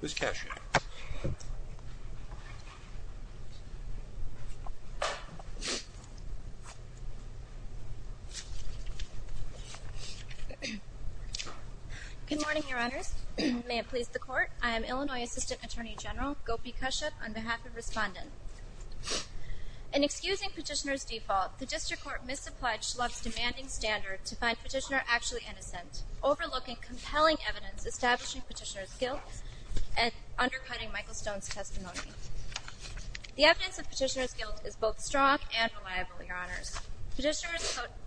Ms. Kashuk. Good morning, Your Honors. May it please the Court, I am Illinois Assistant Attorney General Gopi Kashuk on behalf of Respondent. In excusing Petitioner's default, the District Court misapplied Schlupf's demanding standard to find compelling evidence establishing Petitioner's guilt and undercutting Michael Stone's testimony. The evidence of Petitioner's guilt is both strong and reliable, Your Honors. Petitioner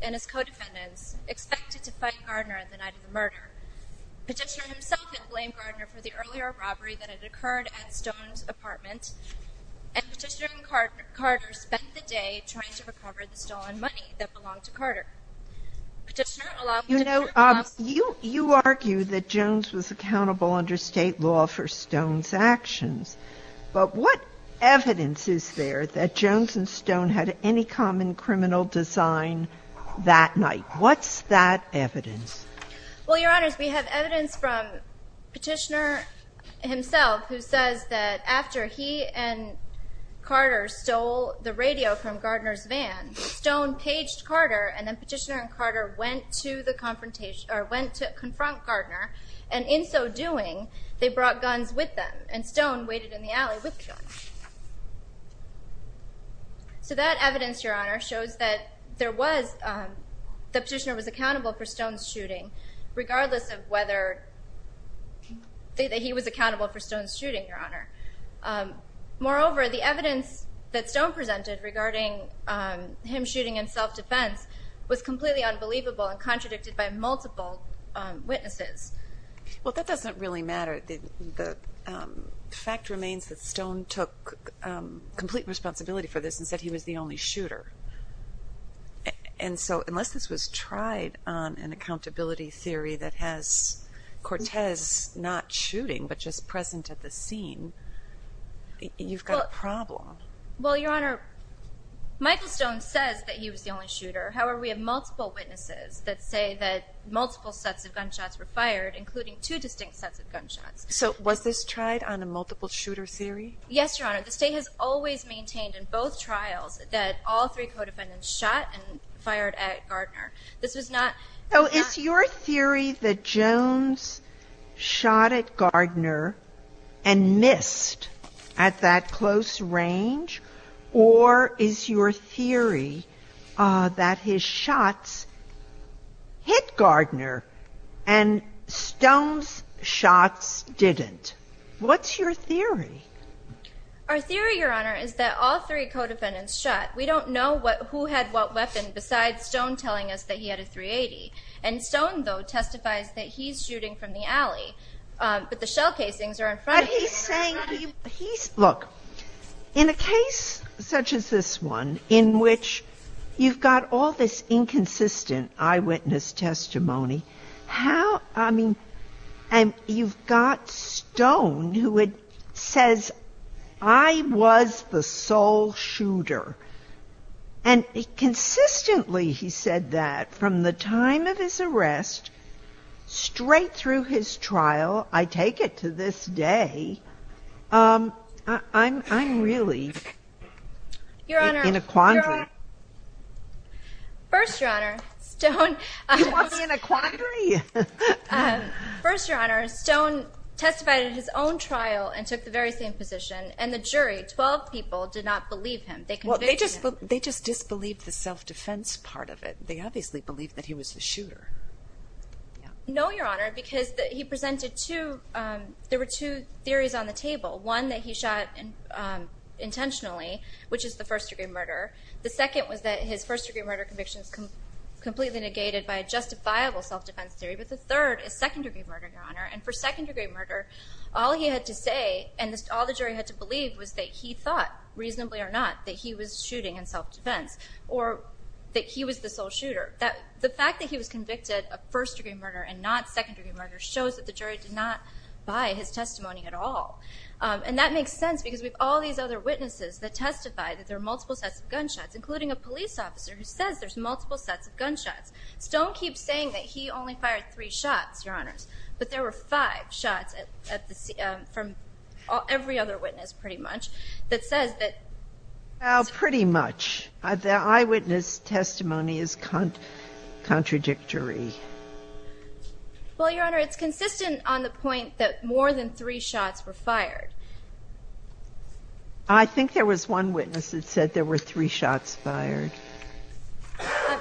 and his co-defendants expected to fight Gardner at the night of the murder. Petitioner himself had blamed Gardner for the earlier robbery that had occurred at Stone's apartment, and Petitioner and Carter spent the day trying to recover the stolen money that belonged to accountable under State law for Stone's actions. But what evidence is there that Jones and Stone had any common criminal design that night? What's that evidence? Well, Your Honors, we have evidence from Petitioner himself who says that after he and Carter stole the radio from Gardner's van, Stone paged Carter, and then Petitioner and Carter went to confront Gardner, and in so doing, they brought guns with them, and Stone waited in the alley with guns. So that evidence, Your Honor, shows that the Petitioner was accountable for Stone's shooting, regardless of whether he was accountable for Stone's shooting, Your Honor. Moreover, the evidence that Stone presented regarding him shooting in self-defense was completely unbelievable and contradicted by multiple witnesses. Well, that doesn't really matter. The fact remains that Stone took complete responsibility for this and said he was the only shooter. And so, unless this was tried on an accountability theory that has Cortez not shooting, but just present at the scene, you've got a problem. Well, Your Honor, Michael Stone says that he was the only shooter. However, we have multiple witnesses that say that multiple sets of gunshots were fired, including two distinct sets of gunshots. So was this tried on a multiple-shooter theory? Yes, Your Honor. The State has always maintained in both trials that all three co-defendants shot and fired at Gardner. This was not... So is your theory that Jones shot at Gardner and missed at that close range, or is your theory that his shots hit Gardner and Stone's shots didn't? What's your theory? Our theory, Your Honor, is that all three co-defendants shot. We don't know who had what weapon besides Stone telling us that he had a .380. And Stone, though, testifies that he's shooting from the alley, but the shell casings are in front of him. But he's saying... Look, in a case such as this one, in which you've got all this inconsistent eyewitness testimony, how... I mean, and you've got Stone, who says, I was the sole shooter. And consistently, he said that from the time of his arrest straight through his trial, I take it to this day, I'm really in a quandary. Your Honor, first, Your Honor, Stone testified in his own trial and took the very same position. And the jury, 12 people, did not believe him. They convicted him. They just disbelieved the self-defense part of it. They obviously believed that he was the shooter. No, Your Honor, because he presented two... There were two theories on the table. One that he shot intentionally, which is the first-degree murder. The second was that his first-degree murder conviction is completely negated by a justifiable self-defense theory. But the third is second-degree murder, Your Honor. And for second-degree murder, all he had to say and all the jury had to believe was that he thought, reasonably or not, that he was shooting in The fact that he was convicted of first-degree murder and not second-degree murder shows that the jury did not buy his testimony at all. And that makes sense because we have all these other witnesses that testified that there are multiple sets of gunshots, including a police officer who says there's multiple sets of gunshots. Stone keeps saying that he only fired three shots, Your Honor, but there were five shots from every other witness, pretty much, that says that... Well, pretty much. The eyewitness testimony is contradictory. Well, Your Honor, it's consistent on the point that more than three shots were fired. I think there was one witness that said there were three shots fired.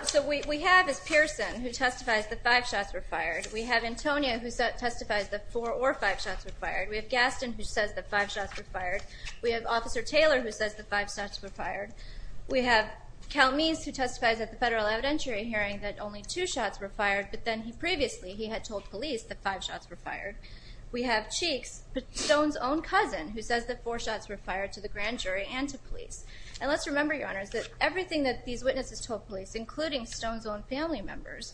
So we have, as Pearson, who testifies that five shots were fired. We have Antonia, who testifies that four or five shots were fired. We have Gaston, who says that five shots were fired. We have Calmees, who testifies at the federal evidentiary hearing that only two shots were fired, but then he previously, he had told police that five shots were fired. We have Cheeks, Stone's own cousin, who says that four shots were fired to the grand jury and to police. And let's remember, Your Honors, that everything that these witnesses told police, including Stone's own family members,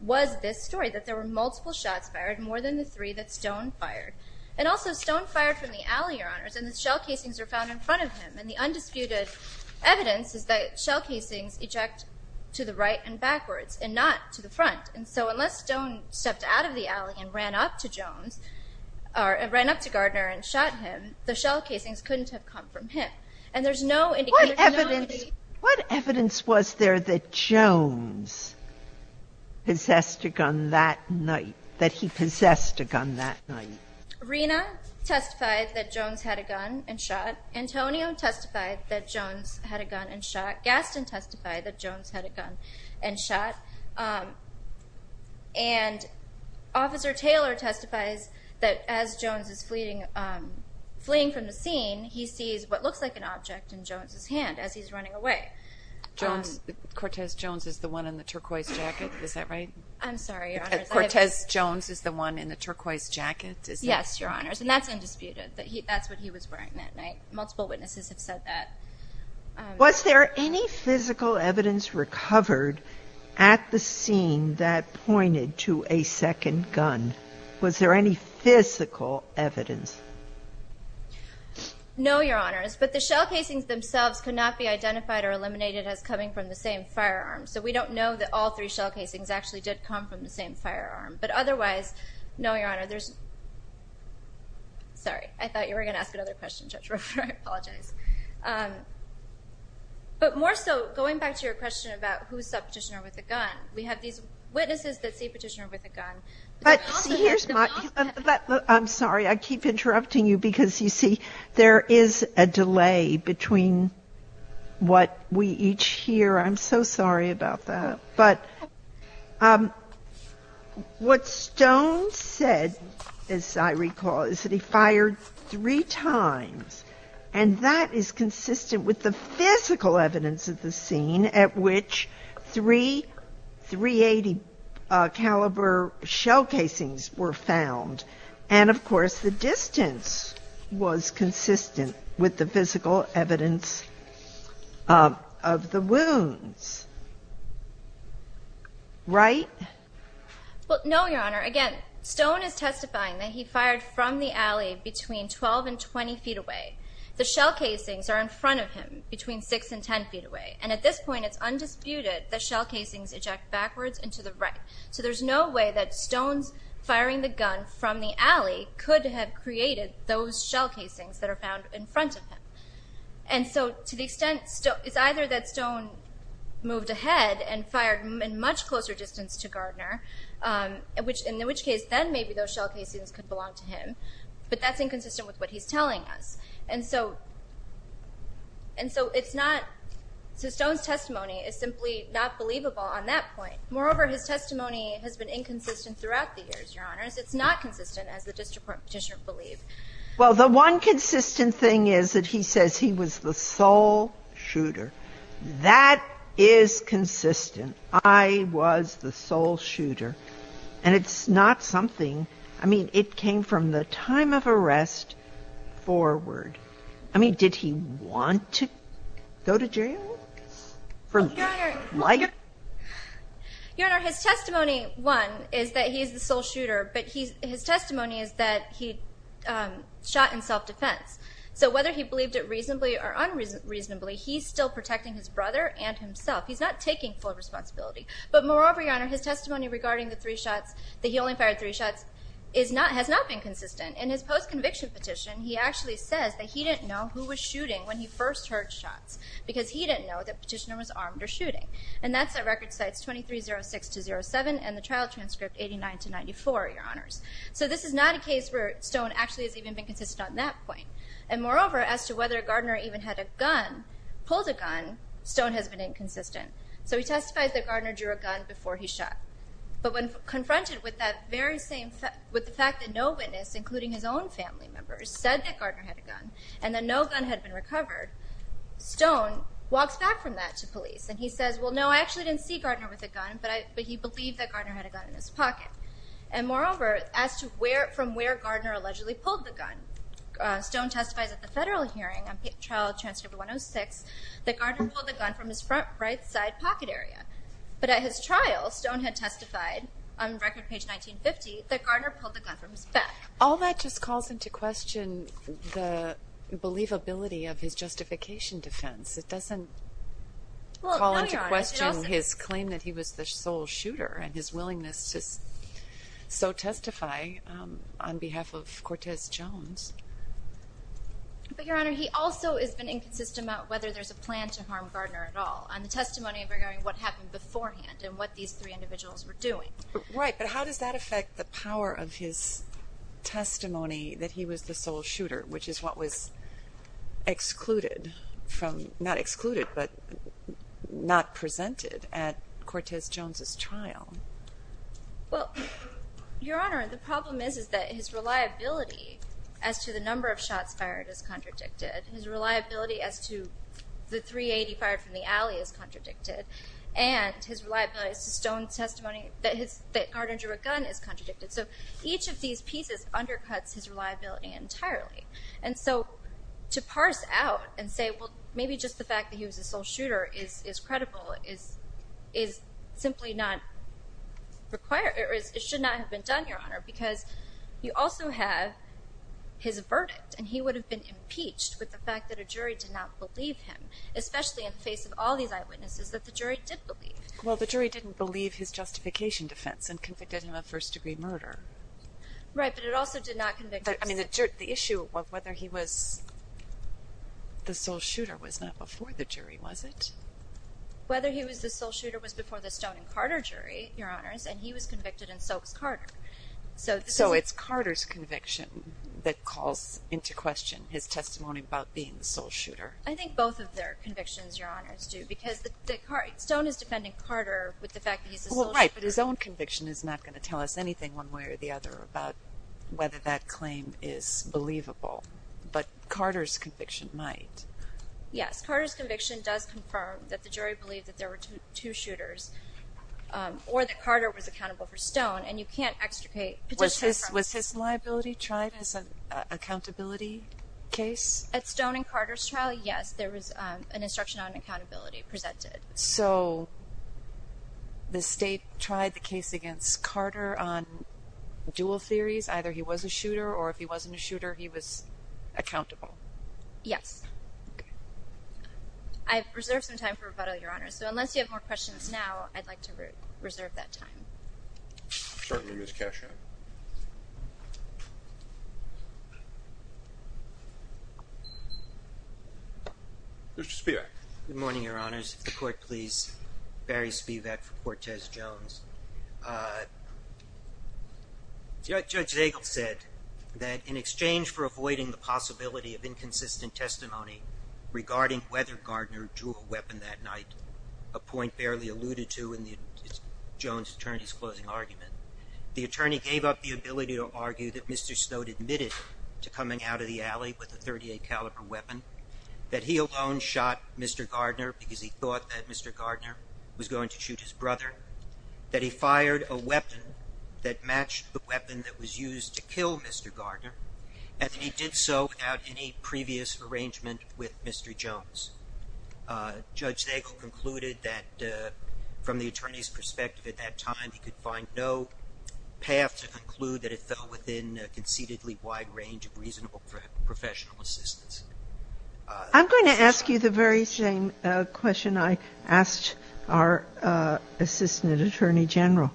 was this story, that there were multiple shots fired, more than the three that Stone fired. And also Stone fired from the alley, Your Honors, and the shell casings were found in front of him. And the undisputed evidence is that shell casings eject to the right and backwards and not to the front. And so unless Stone stepped out of the alley and ran up to Jones, or ran up to Gardner and shot him, the shell casings couldn't have come from him. And there's no indication of the- What evidence, what evidence was there that Jones possessed a gun that night, that he possessed a gun that night? Rena testified that Jones had a gun and shot. Antonio testified that Jones had a gun and shot. Gaston testified that Jones had a gun and shot. And Officer Taylor testifies that as Jones is fleeing from the scene, he sees what looks like an object in Jones's hand as he's running away. Jones, Cortez Jones is the one in the turquoise jacket, is that right? I'm sorry, Your Honors. Cortez Jones is the one in the turquoise jacket, is that- Yes, Your Honors. And that's undisputed, that that's what he was wearing that night. Multiple witnesses have said that. Was there any physical evidence recovered at the scene that pointed to a second gun? Was there any physical evidence? No, Your Honors, but the shell casings themselves could not be identified or eliminated as coming from the same firearm. So we don't know that all three shell casings actually did come from the same firearm. But otherwise, no, Your Honor, there's- sorry, I thought you were going to ask another question, Judge Roper, I apologize. But more so, going back to your question about who stopped Petitioner with a gun, we have these witnesses that see Petitioner with a gun- But see, here's my- I'm sorry, I keep interrupting you because, you see, there is a delay between what we each hear. I'm so sorry about that. But what Stone said, as I recall, is that he fired three times. And that is consistent with the physical evidence at the scene at which three .380 caliber shell casings were found. And, of course, the distance was consistent with the physical evidence of the wounds. Right? Well, no, Your Honor. Again, Stone is testifying that he fired from the alley between 12 and 20 feet away. The shell casings are in front of him, between 6 and 10 feet away. And at this point, it's undisputed that shell casings eject backwards and to the right. So there's no way that Stone's firing the gun from the alley could have created those shell casings that are found in front of him. And so, to the extent, it's either that Stone moved ahead and fired in much closer distance to Gardner, in which case, then maybe those shell casings could belong to him. But that's inconsistent with what he's telling us. And so, it's not, so Stone's testimony is simply not believable on that point. Moreover, his testimony has been inconsistent throughout the years, Your Honors. It's not consistent as the district petitioner believed. Well, the one consistent thing is that he says he was the sole shooter. That is consistent. I was the sole shooter. And it's not something, I mean, it came from the time of arrest forward. I mean, did he want to go to jail? Your Honor, Your Honor, his testimony, one, is that he is the sole shooter, but he's, his testimony is that he shot in self-defense. So whether he believed it reasonably or unreasonably, he's still protecting his brother and himself. He's not taking full responsibility. But moreover, Your Honor, his testimony regarding the three shots, that he only fired three shots, is not, has not been consistent. In his post-conviction petition, he actually says that he didn't know who was shooting when he first heard shots, because he didn't know that petitioner was armed or shooting. And that's at record sites 2306 to 07, and the trial transcript 89 to 94, Your Honors. So this is not a case where Stone actually has even been consistent on that point. And moreover, as to whether Gardner even had a gun, pulled a gun, Stone has been inconsistent. So he testifies that Gardner drew a gun before he shot. But when confronted with that very same, with the fact that no witness, including his own family members, said that Gardner had a gun, and that no gun had been recovered, Stone walks back from that to police. And he says, well no, I actually didn't see Gardner with a gun, but I, but he believed that Gardner had a gun in his pocket. And moreover, as to where, from where Gardner allegedly pulled the gun, Stone testifies at the federal hearing, on trial transcript 106, that Gardner pulled the gun from his front right side pocket area. But at his trial, Stone had testified, on record page 1950, that Gardner pulled the gun from his back. All that just calls into question the believability of his justification defense. It doesn't call into question his claim that he was the sole shooter, and his willingness to so testify on behalf of Cortez Jones. But Your Honor, he also has been inconsistent about whether there's a plan to harm Gardner at all, on the testimony regarding what happened beforehand, and what these three individuals were doing. Right, but how does that affect the power of his testimony that he was the sole shooter, which is what was excluded from, not excluded, but not presented at Cortez Jones's trial? Well, Your Honor, the problem is, is that his reliability as to the number of shots fired is contradicted. His reliability as to the .380 fired from the alley is contradicted. And his reliability as to Stone's gun is contradicted. So each of these pieces undercuts his reliability entirely. And so, to parse out and say, well, maybe just the fact that he was a sole shooter is, is credible, is, is simply not required. It should not have been done, Your Honor, because you also have his verdict. And he would have been impeached with the fact that a jury did not believe him, especially in the face of all these eyewitnesses that the jury did believe. Well, the jury didn't believe his justification defense and convicted him of first-degree murder. Right, but it also did not convict him. I mean, the issue of whether he was the sole shooter was not before the jury, was it? Whether he was the sole shooter was before the Stone and Carter jury, Your Honors, and he was convicted in Soakes Carter. So, so it's Carter's conviction that calls into question his testimony about being the sole shooter. I think both of their convictions, Your Honors, do because Stone is defending Carter with the fact that he's the sole shooter. Well, right, but his own conviction is not going to tell us anything one way or the other about whether that claim is believable. But Carter's conviction might. Yes, Carter's conviction does confirm that the jury believed that there were two shooters, or that Carter was accountable for Stone, and you can't extricate. Was his, was his liability tried as an accountability case? At Stone and Carter's trial, yes, there was an instruction on accountability presented. So, the state tried the case against Carter on dual theories, either he was a shooter, or if he wasn't a shooter, he was accountable? Yes. I've reserved some time for rebuttal, Your Honors, so unless you have more questions now, I'd like to reserve that time. Certainly, Ms. Cashin. Mr. Spivak. Good morning, Your Honors. If the court please, Barry Spivak for Cortez Jones. Judge Zagel said that in exchange for avoiding the possibility of inconsistent testimony regarding whether Gardner drew a weapon that night, a point barely alluded to in the Jones attorney's closing argument, the attorney gave up the ability to argue that Mr. Stone admitted to coming out of the alley with a .38 caliber weapon, that he alone shot Mr. Gardner because he thought that Mr. Gardner was going to shoot his brother, that he fired a weapon that matched the weapon that was used to kill Mr. Gardner, and that he did so without any from the attorney's perspective at that time, he could find no path to conclude that it fell within a concededly wide range of reasonable professional assistance. I'm going to ask you the very same question I asked our Assistant Attorney General.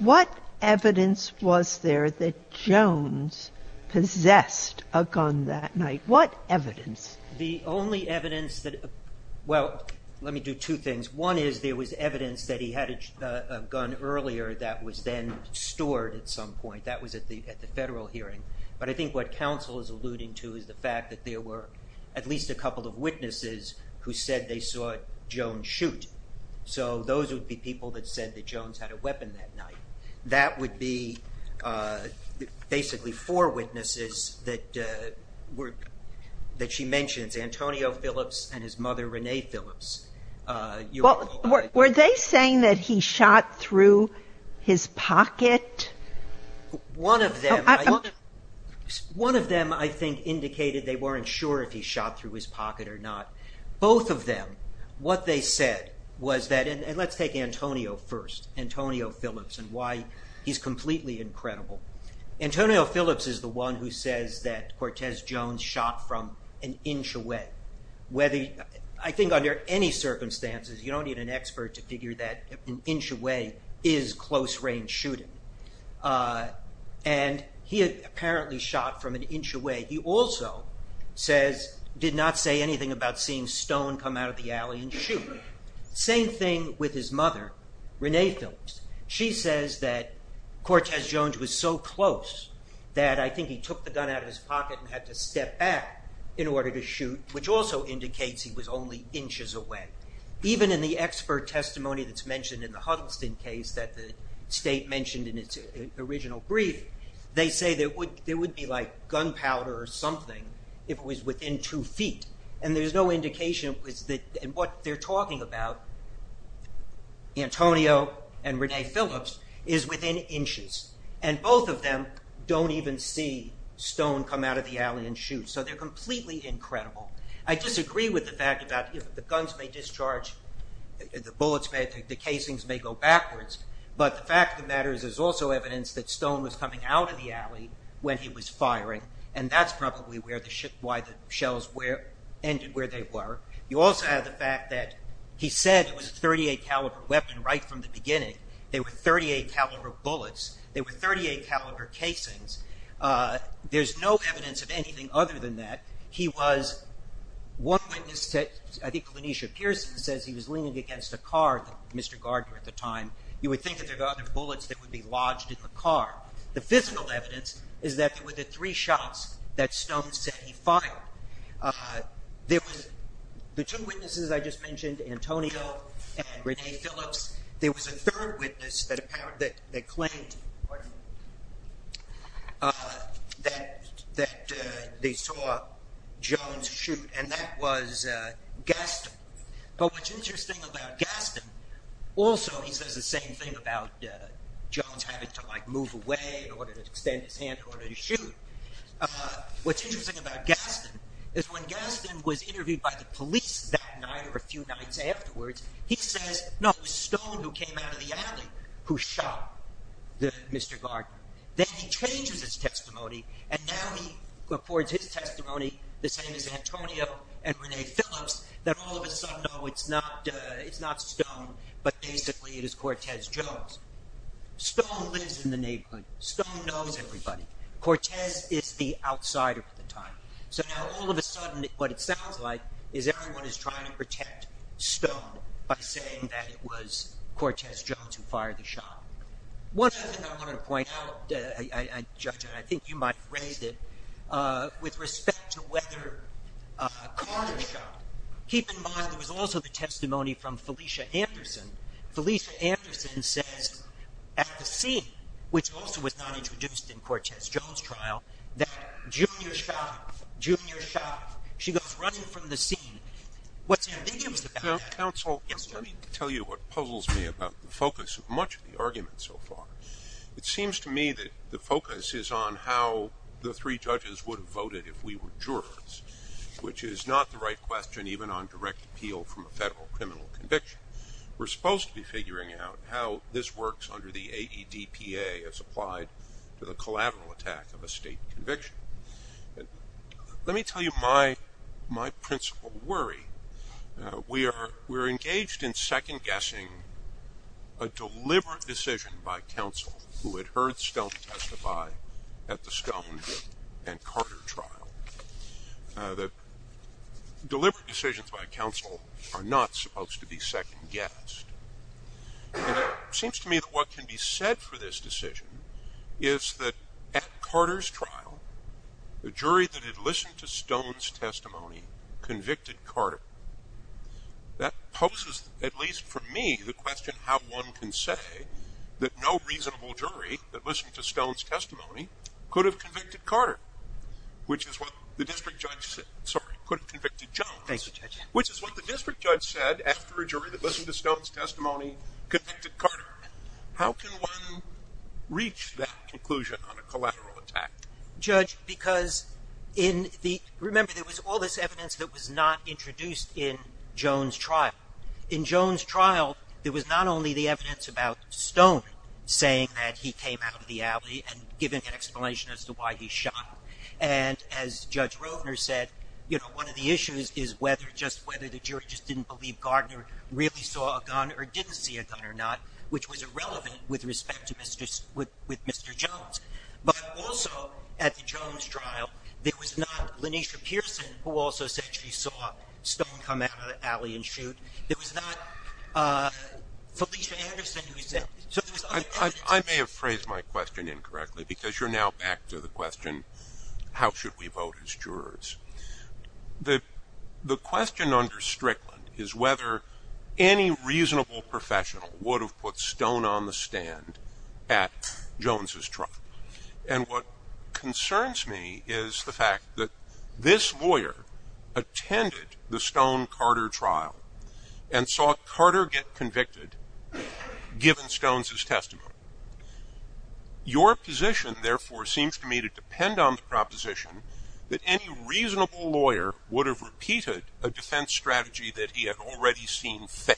What evidence was there that Jones possessed a gun that night? What evidence? The only evidence that – well, let me do two things. One is there was evidence that he had a gun earlier that was then stored at some point. That was at the federal hearing. But I think what counsel is alluding to is the fact that there were at least a couple of witnesses who said they saw Jones shoot. So those would be people that said that Jones had a weapon that night. That would be basically four witnesses that she mentions, Antonio Phillips and his mother, Renee Phillips. Were they saying that he shot through his pocket? One of them, I think, indicated they weren't sure if he shot through his pocket or not. Both of them, what they said was that – and let's take Antonio first, Antonio Phillips, and why he's completely incredible. Antonio Phillips is the one who says that Cortez Jones shot from an inch away. I think under any circumstances, you don't need an expert to figure that an inch away is close range shooting. He apparently shot from an inch away. He also did not say anything about seeing stone come out of the alley and shoot. Same thing with his mother, Renee Phillips. She says that Cortez Jones was so close that I think he took the gun out of his pocket and had to step back in order to shoot, which also indicates he was only inches away. Even in the expert testimony that's mentioned in the Huddleston case that the state mentioned in its original brief, they say there would be like gunpowder or something if it was within two feet. And there's no And both of them don't even see stone come out of the alley and shoot, so they're completely incredible. I disagree with the fact that the guns may discharge, the bullets may, the casings may go backwards, but the fact of the matter is there's also evidence that stone was coming out of the alley when he was firing, and that's probably why the shells ended where they were. You also have the fact that he said it was a .38 caliber weapon right from the beginning. They were .38 caliber bullets. They were .38 caliber casings. There's no evidence of anything other than that. He was one witness to, I think Lanisha Pearson says he was leaning against a car, Mr. Gardner at the time. You would think that there were other bullets that would be lodged in the car. The physical evidence is that there were the three shots that Stone said he fired. The two witnesses I just mentioned, Antonio and Renee Phillips, there was a third witness that claimed that they saw Jones shoot, and that was Gaston. But what's interesting about Gaston, also he says the same thing about Jones having to like move away in order to extend his hand in order to shoot. What's interesting about Gaston is when Gaston was interviewed by the police that night or a few nights afterwards, he says no, it was Stone who came out of the alley who shot Mr. Gardner. Then he changes his testimony and now he reports his testimony, the same as Antonio and Renee Phillips, that all of a sudden it's not Stone, but basically it is Cortez Jones. Stone lives in the neighborhood. Stone knows everybody. Cortez is the outsider at the time. So now all of a sudden what it sounds like is everyone is trying to protect Stone by saying that it was Cortez Jones who fired the shot. One other thing I wanted to point out, Judge, and I think you might have raised it, with respect to whether a car was shot, keep in mind there was also the testimony from Cortez Jones' trial that Junior shot him. Junior shot him. She goes running from the scene. What's interesting about that is... Counsel, let me tell you what puzzles me about the focus of much of the argument so far. It seems to me that the focus is on how the three judges would have voted if we were jurors, which is not the right question even on direct appeal from a federal criminal conviction. We're supposed to be figuring out how this works under the AEDPA as applied to the collateral attack of a state conviction. Let me tell you my principle worry. We are engaged in second-guessing a deliberate decision by counsel who had heard Stone testify at the Stone and Carter trial. Deliberate decisions by counsel are not supposed to be second-guessed. It seems to me that what can be said for this decision is that at Carter's trial, the jury that had listened to Stone's testimony convicted Carter. That poses, at least for me, the question how one can say that no reasonable jury that listened to Stone's testimony could have convicted Carter, which is what the district judge said, sorry, could have convicted Jones, which is what the district judge said after a jury that listened to Stone's testimony convicted Carter. How can one reach that conclusion on a collateral attack? Remember, there was all this evidence that was not introduced in Jones' trial. In Jones' trial, there was not only the evidence about Stone saying that he came out of the alley and giving an explanation as to why he shot. As Judge Rovner said, one of the issues is whether the jury just didn't believe Gardner really saw a gun or didn't see a gun or not, which was irrelevant with respect to Mr. Jones. But also, at the Jones trial, it was not Lanesha Pearson who also said she saw Stone come out of the alley and shoot. It was not Felicia Anderson who said it. I may have phrased my question incorrectly because you're now back to the question, how should we vote as jurors? The question under Strickland is whether any reasonable professional would have put Stone on the stand at Jones' trial. And what concerns me is the fact that this lawyer attended the Stone-Carter trial and saw Carter get convicted, given Stone's testimony. Your position, therefore, seems to me to depend on the proposition that any reasonable lawyer would have repeated a defense strategy that he had already seen fail,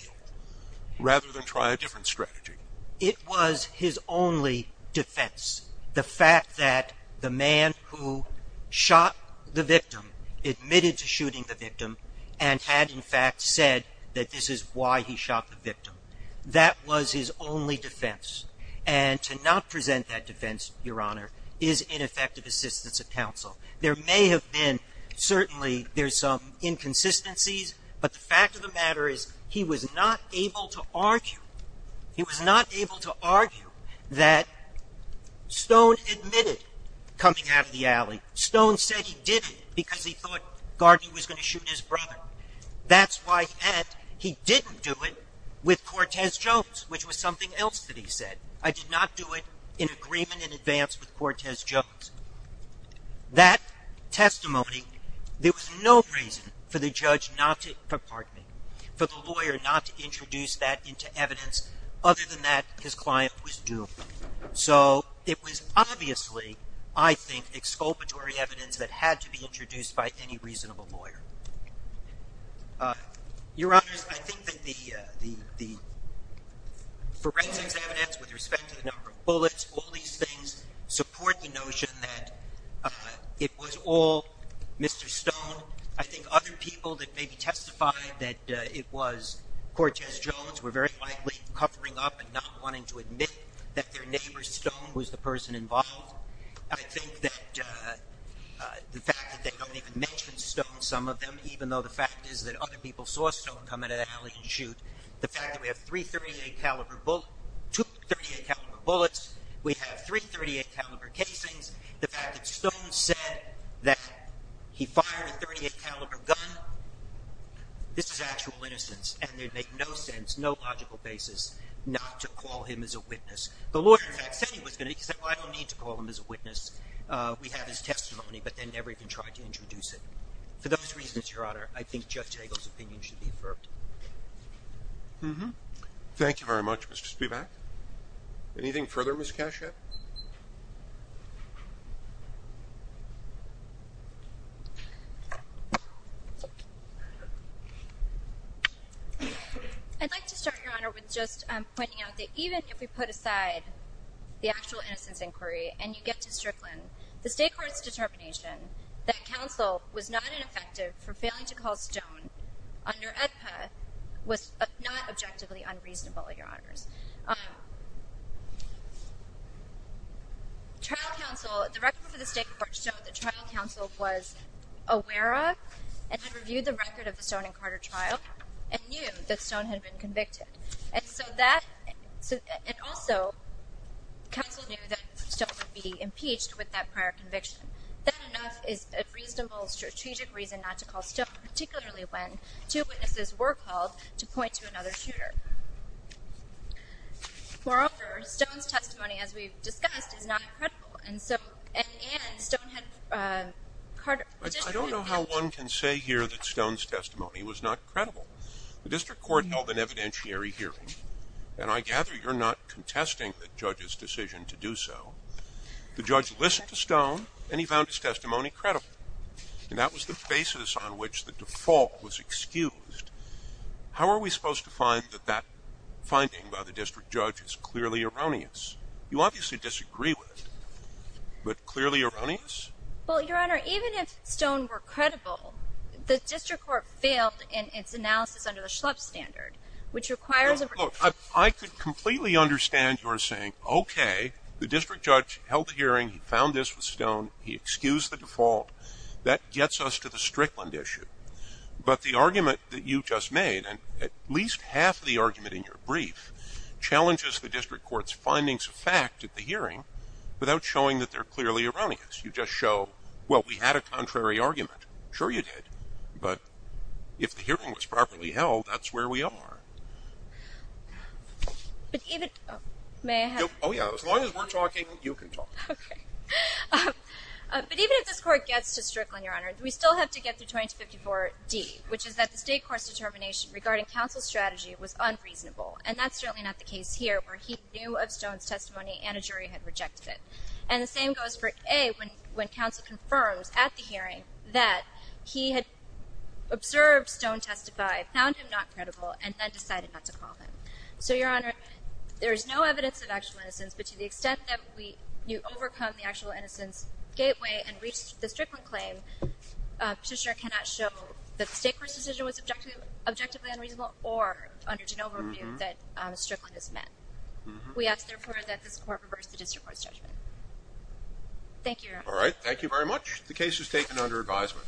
rather than try a different strategy. Your Honor, it was his only defense, the fact that the man who shot the victim admitted to shooting the victim and had, in fact, said that this is why he shot the victim. That was his only defense. And to not present that defense, Your Honor, is ineffective assistance of counsel. There may have been, certainly, there's some inconsistencies, but the fact of the matter is he was not able to argue. He was not able to argue that Stone admitted coming out of the alley. Stone said he didn't because he thought Gardner was going to shoot his brother. That's why he didn't do it with Cortez Jones, which was something else that he said. I did not do it in agreement in advance with Cortez Jones. That testimony, there was no reason for the judge not to, pardon me, for the lawyer not to introduce that into evidence. Other than that, his client was doomed. So it was obviously, I think, exculpatory evidence that had to be introduced by any reasonable lawyer. Your Honors, I think that the forensics evidence with respect to the number of bullets, all these things, support the notion that it was all Mr. Stone. I think other people that maybe testified that it was Cortez Jones were very likely covering up and not wanting to admit that their neighbor, Stone, was the person involved. I think that the fact that they don't even mention Stone, some of them, even though the fact is that other people saw Stone come out of the alley and shoot, the fact that we have two .38 caliber bullets, we have three .38 caliber casings, the fact that Stone said that he fired a .38 caliber gun, this is actual innocence. And it would make no sense, no logical basis, not to call him as a witness. The lawyer, in fact, said he was going to because he said, well, I don't need to call him as a witness. We have his testimony, but they never even tried to introduce it. For those reasons, Your Honor, I think Judge Hagel's opinion should be affirmed. Thank you very much, Mr. Spivak. Anything further, Ms. Cashat? I'd like to start, Your Honor, with just pointing out that even if we put aside the actual innocence inquiry and you get to Strickland, the State Court's determination that counsel was not ineffective for failing to call Stone under AEDPA was not objectively unreasonable, Your Honors. The record for the State Court showed that trial counsel was aware of and had reviewed the record of the Stone and Carter trial and knew that Stone had been convicted. And also, counsel knew that Stone would be impeached with that prior conviction. That, enough, is a reasonable, strategic reason not to call Stone, particularly when two witnesses were called to point to another shooter. Moreover, Stone's testimony, as we've discussed, is not credible. And so, and Stone had, uh, Carter, the district had, I don't know how one can say here that Stone's testimony was not credible. The district court held an evidentiary hearing, and I gather you're not contesting the judge's decision to do so. The judge listened to Stone, and he found his testimony credible. And that was the basis on which the default was excused. How are we supposed to find that that finding by the district judge is clearly erroneous? You obviously disagree with it. But clearly erroneous? Well, Your Honor, even if Stone were credible, the district court failed in its analysis under the Schlepp standard, which requires a... Look, I could completely understand your saying, okay, the district judge held the hearing, he found this with Stone, he excused the default. That gets us to the Strickland issue. But the argument that you just made, and at least half the argument in your brief, challenges the district court's findings of fact at the hearing without showing that they're clearly erroneous. You just show, well, we had a contrary argument. Sure you did. But if the hearing was properly held, that's where we are. But even... May I have... Oh yeah, as long as we're talking, you can talk. Okay. But even if this court gets to Strickland, Your Honor, we still have to get through 2254D, which is that the state court's determination regarding counsel's strategy was unreasonable. And that's certainly not the case here, where he knew of Stone's testimony and a jury had rejected it. And the same goes for A, when counsel confirms at the hearing that he had observed Stone testify, found him not credible, and then decided not to call him. So, Your Honor, there is no evidence of actual innocence, but to the extent that you overcome the actual innocence gateway and reach the Strickland claim, the district cannot show that the state court's decision was objectively unreasonable or, under De Novo's view, that Strickland is met. We ask, therefore, that this court reverse the district court's judgment. Thank you, Your Honor. All right. Thank you very much. The case is taken under advisement.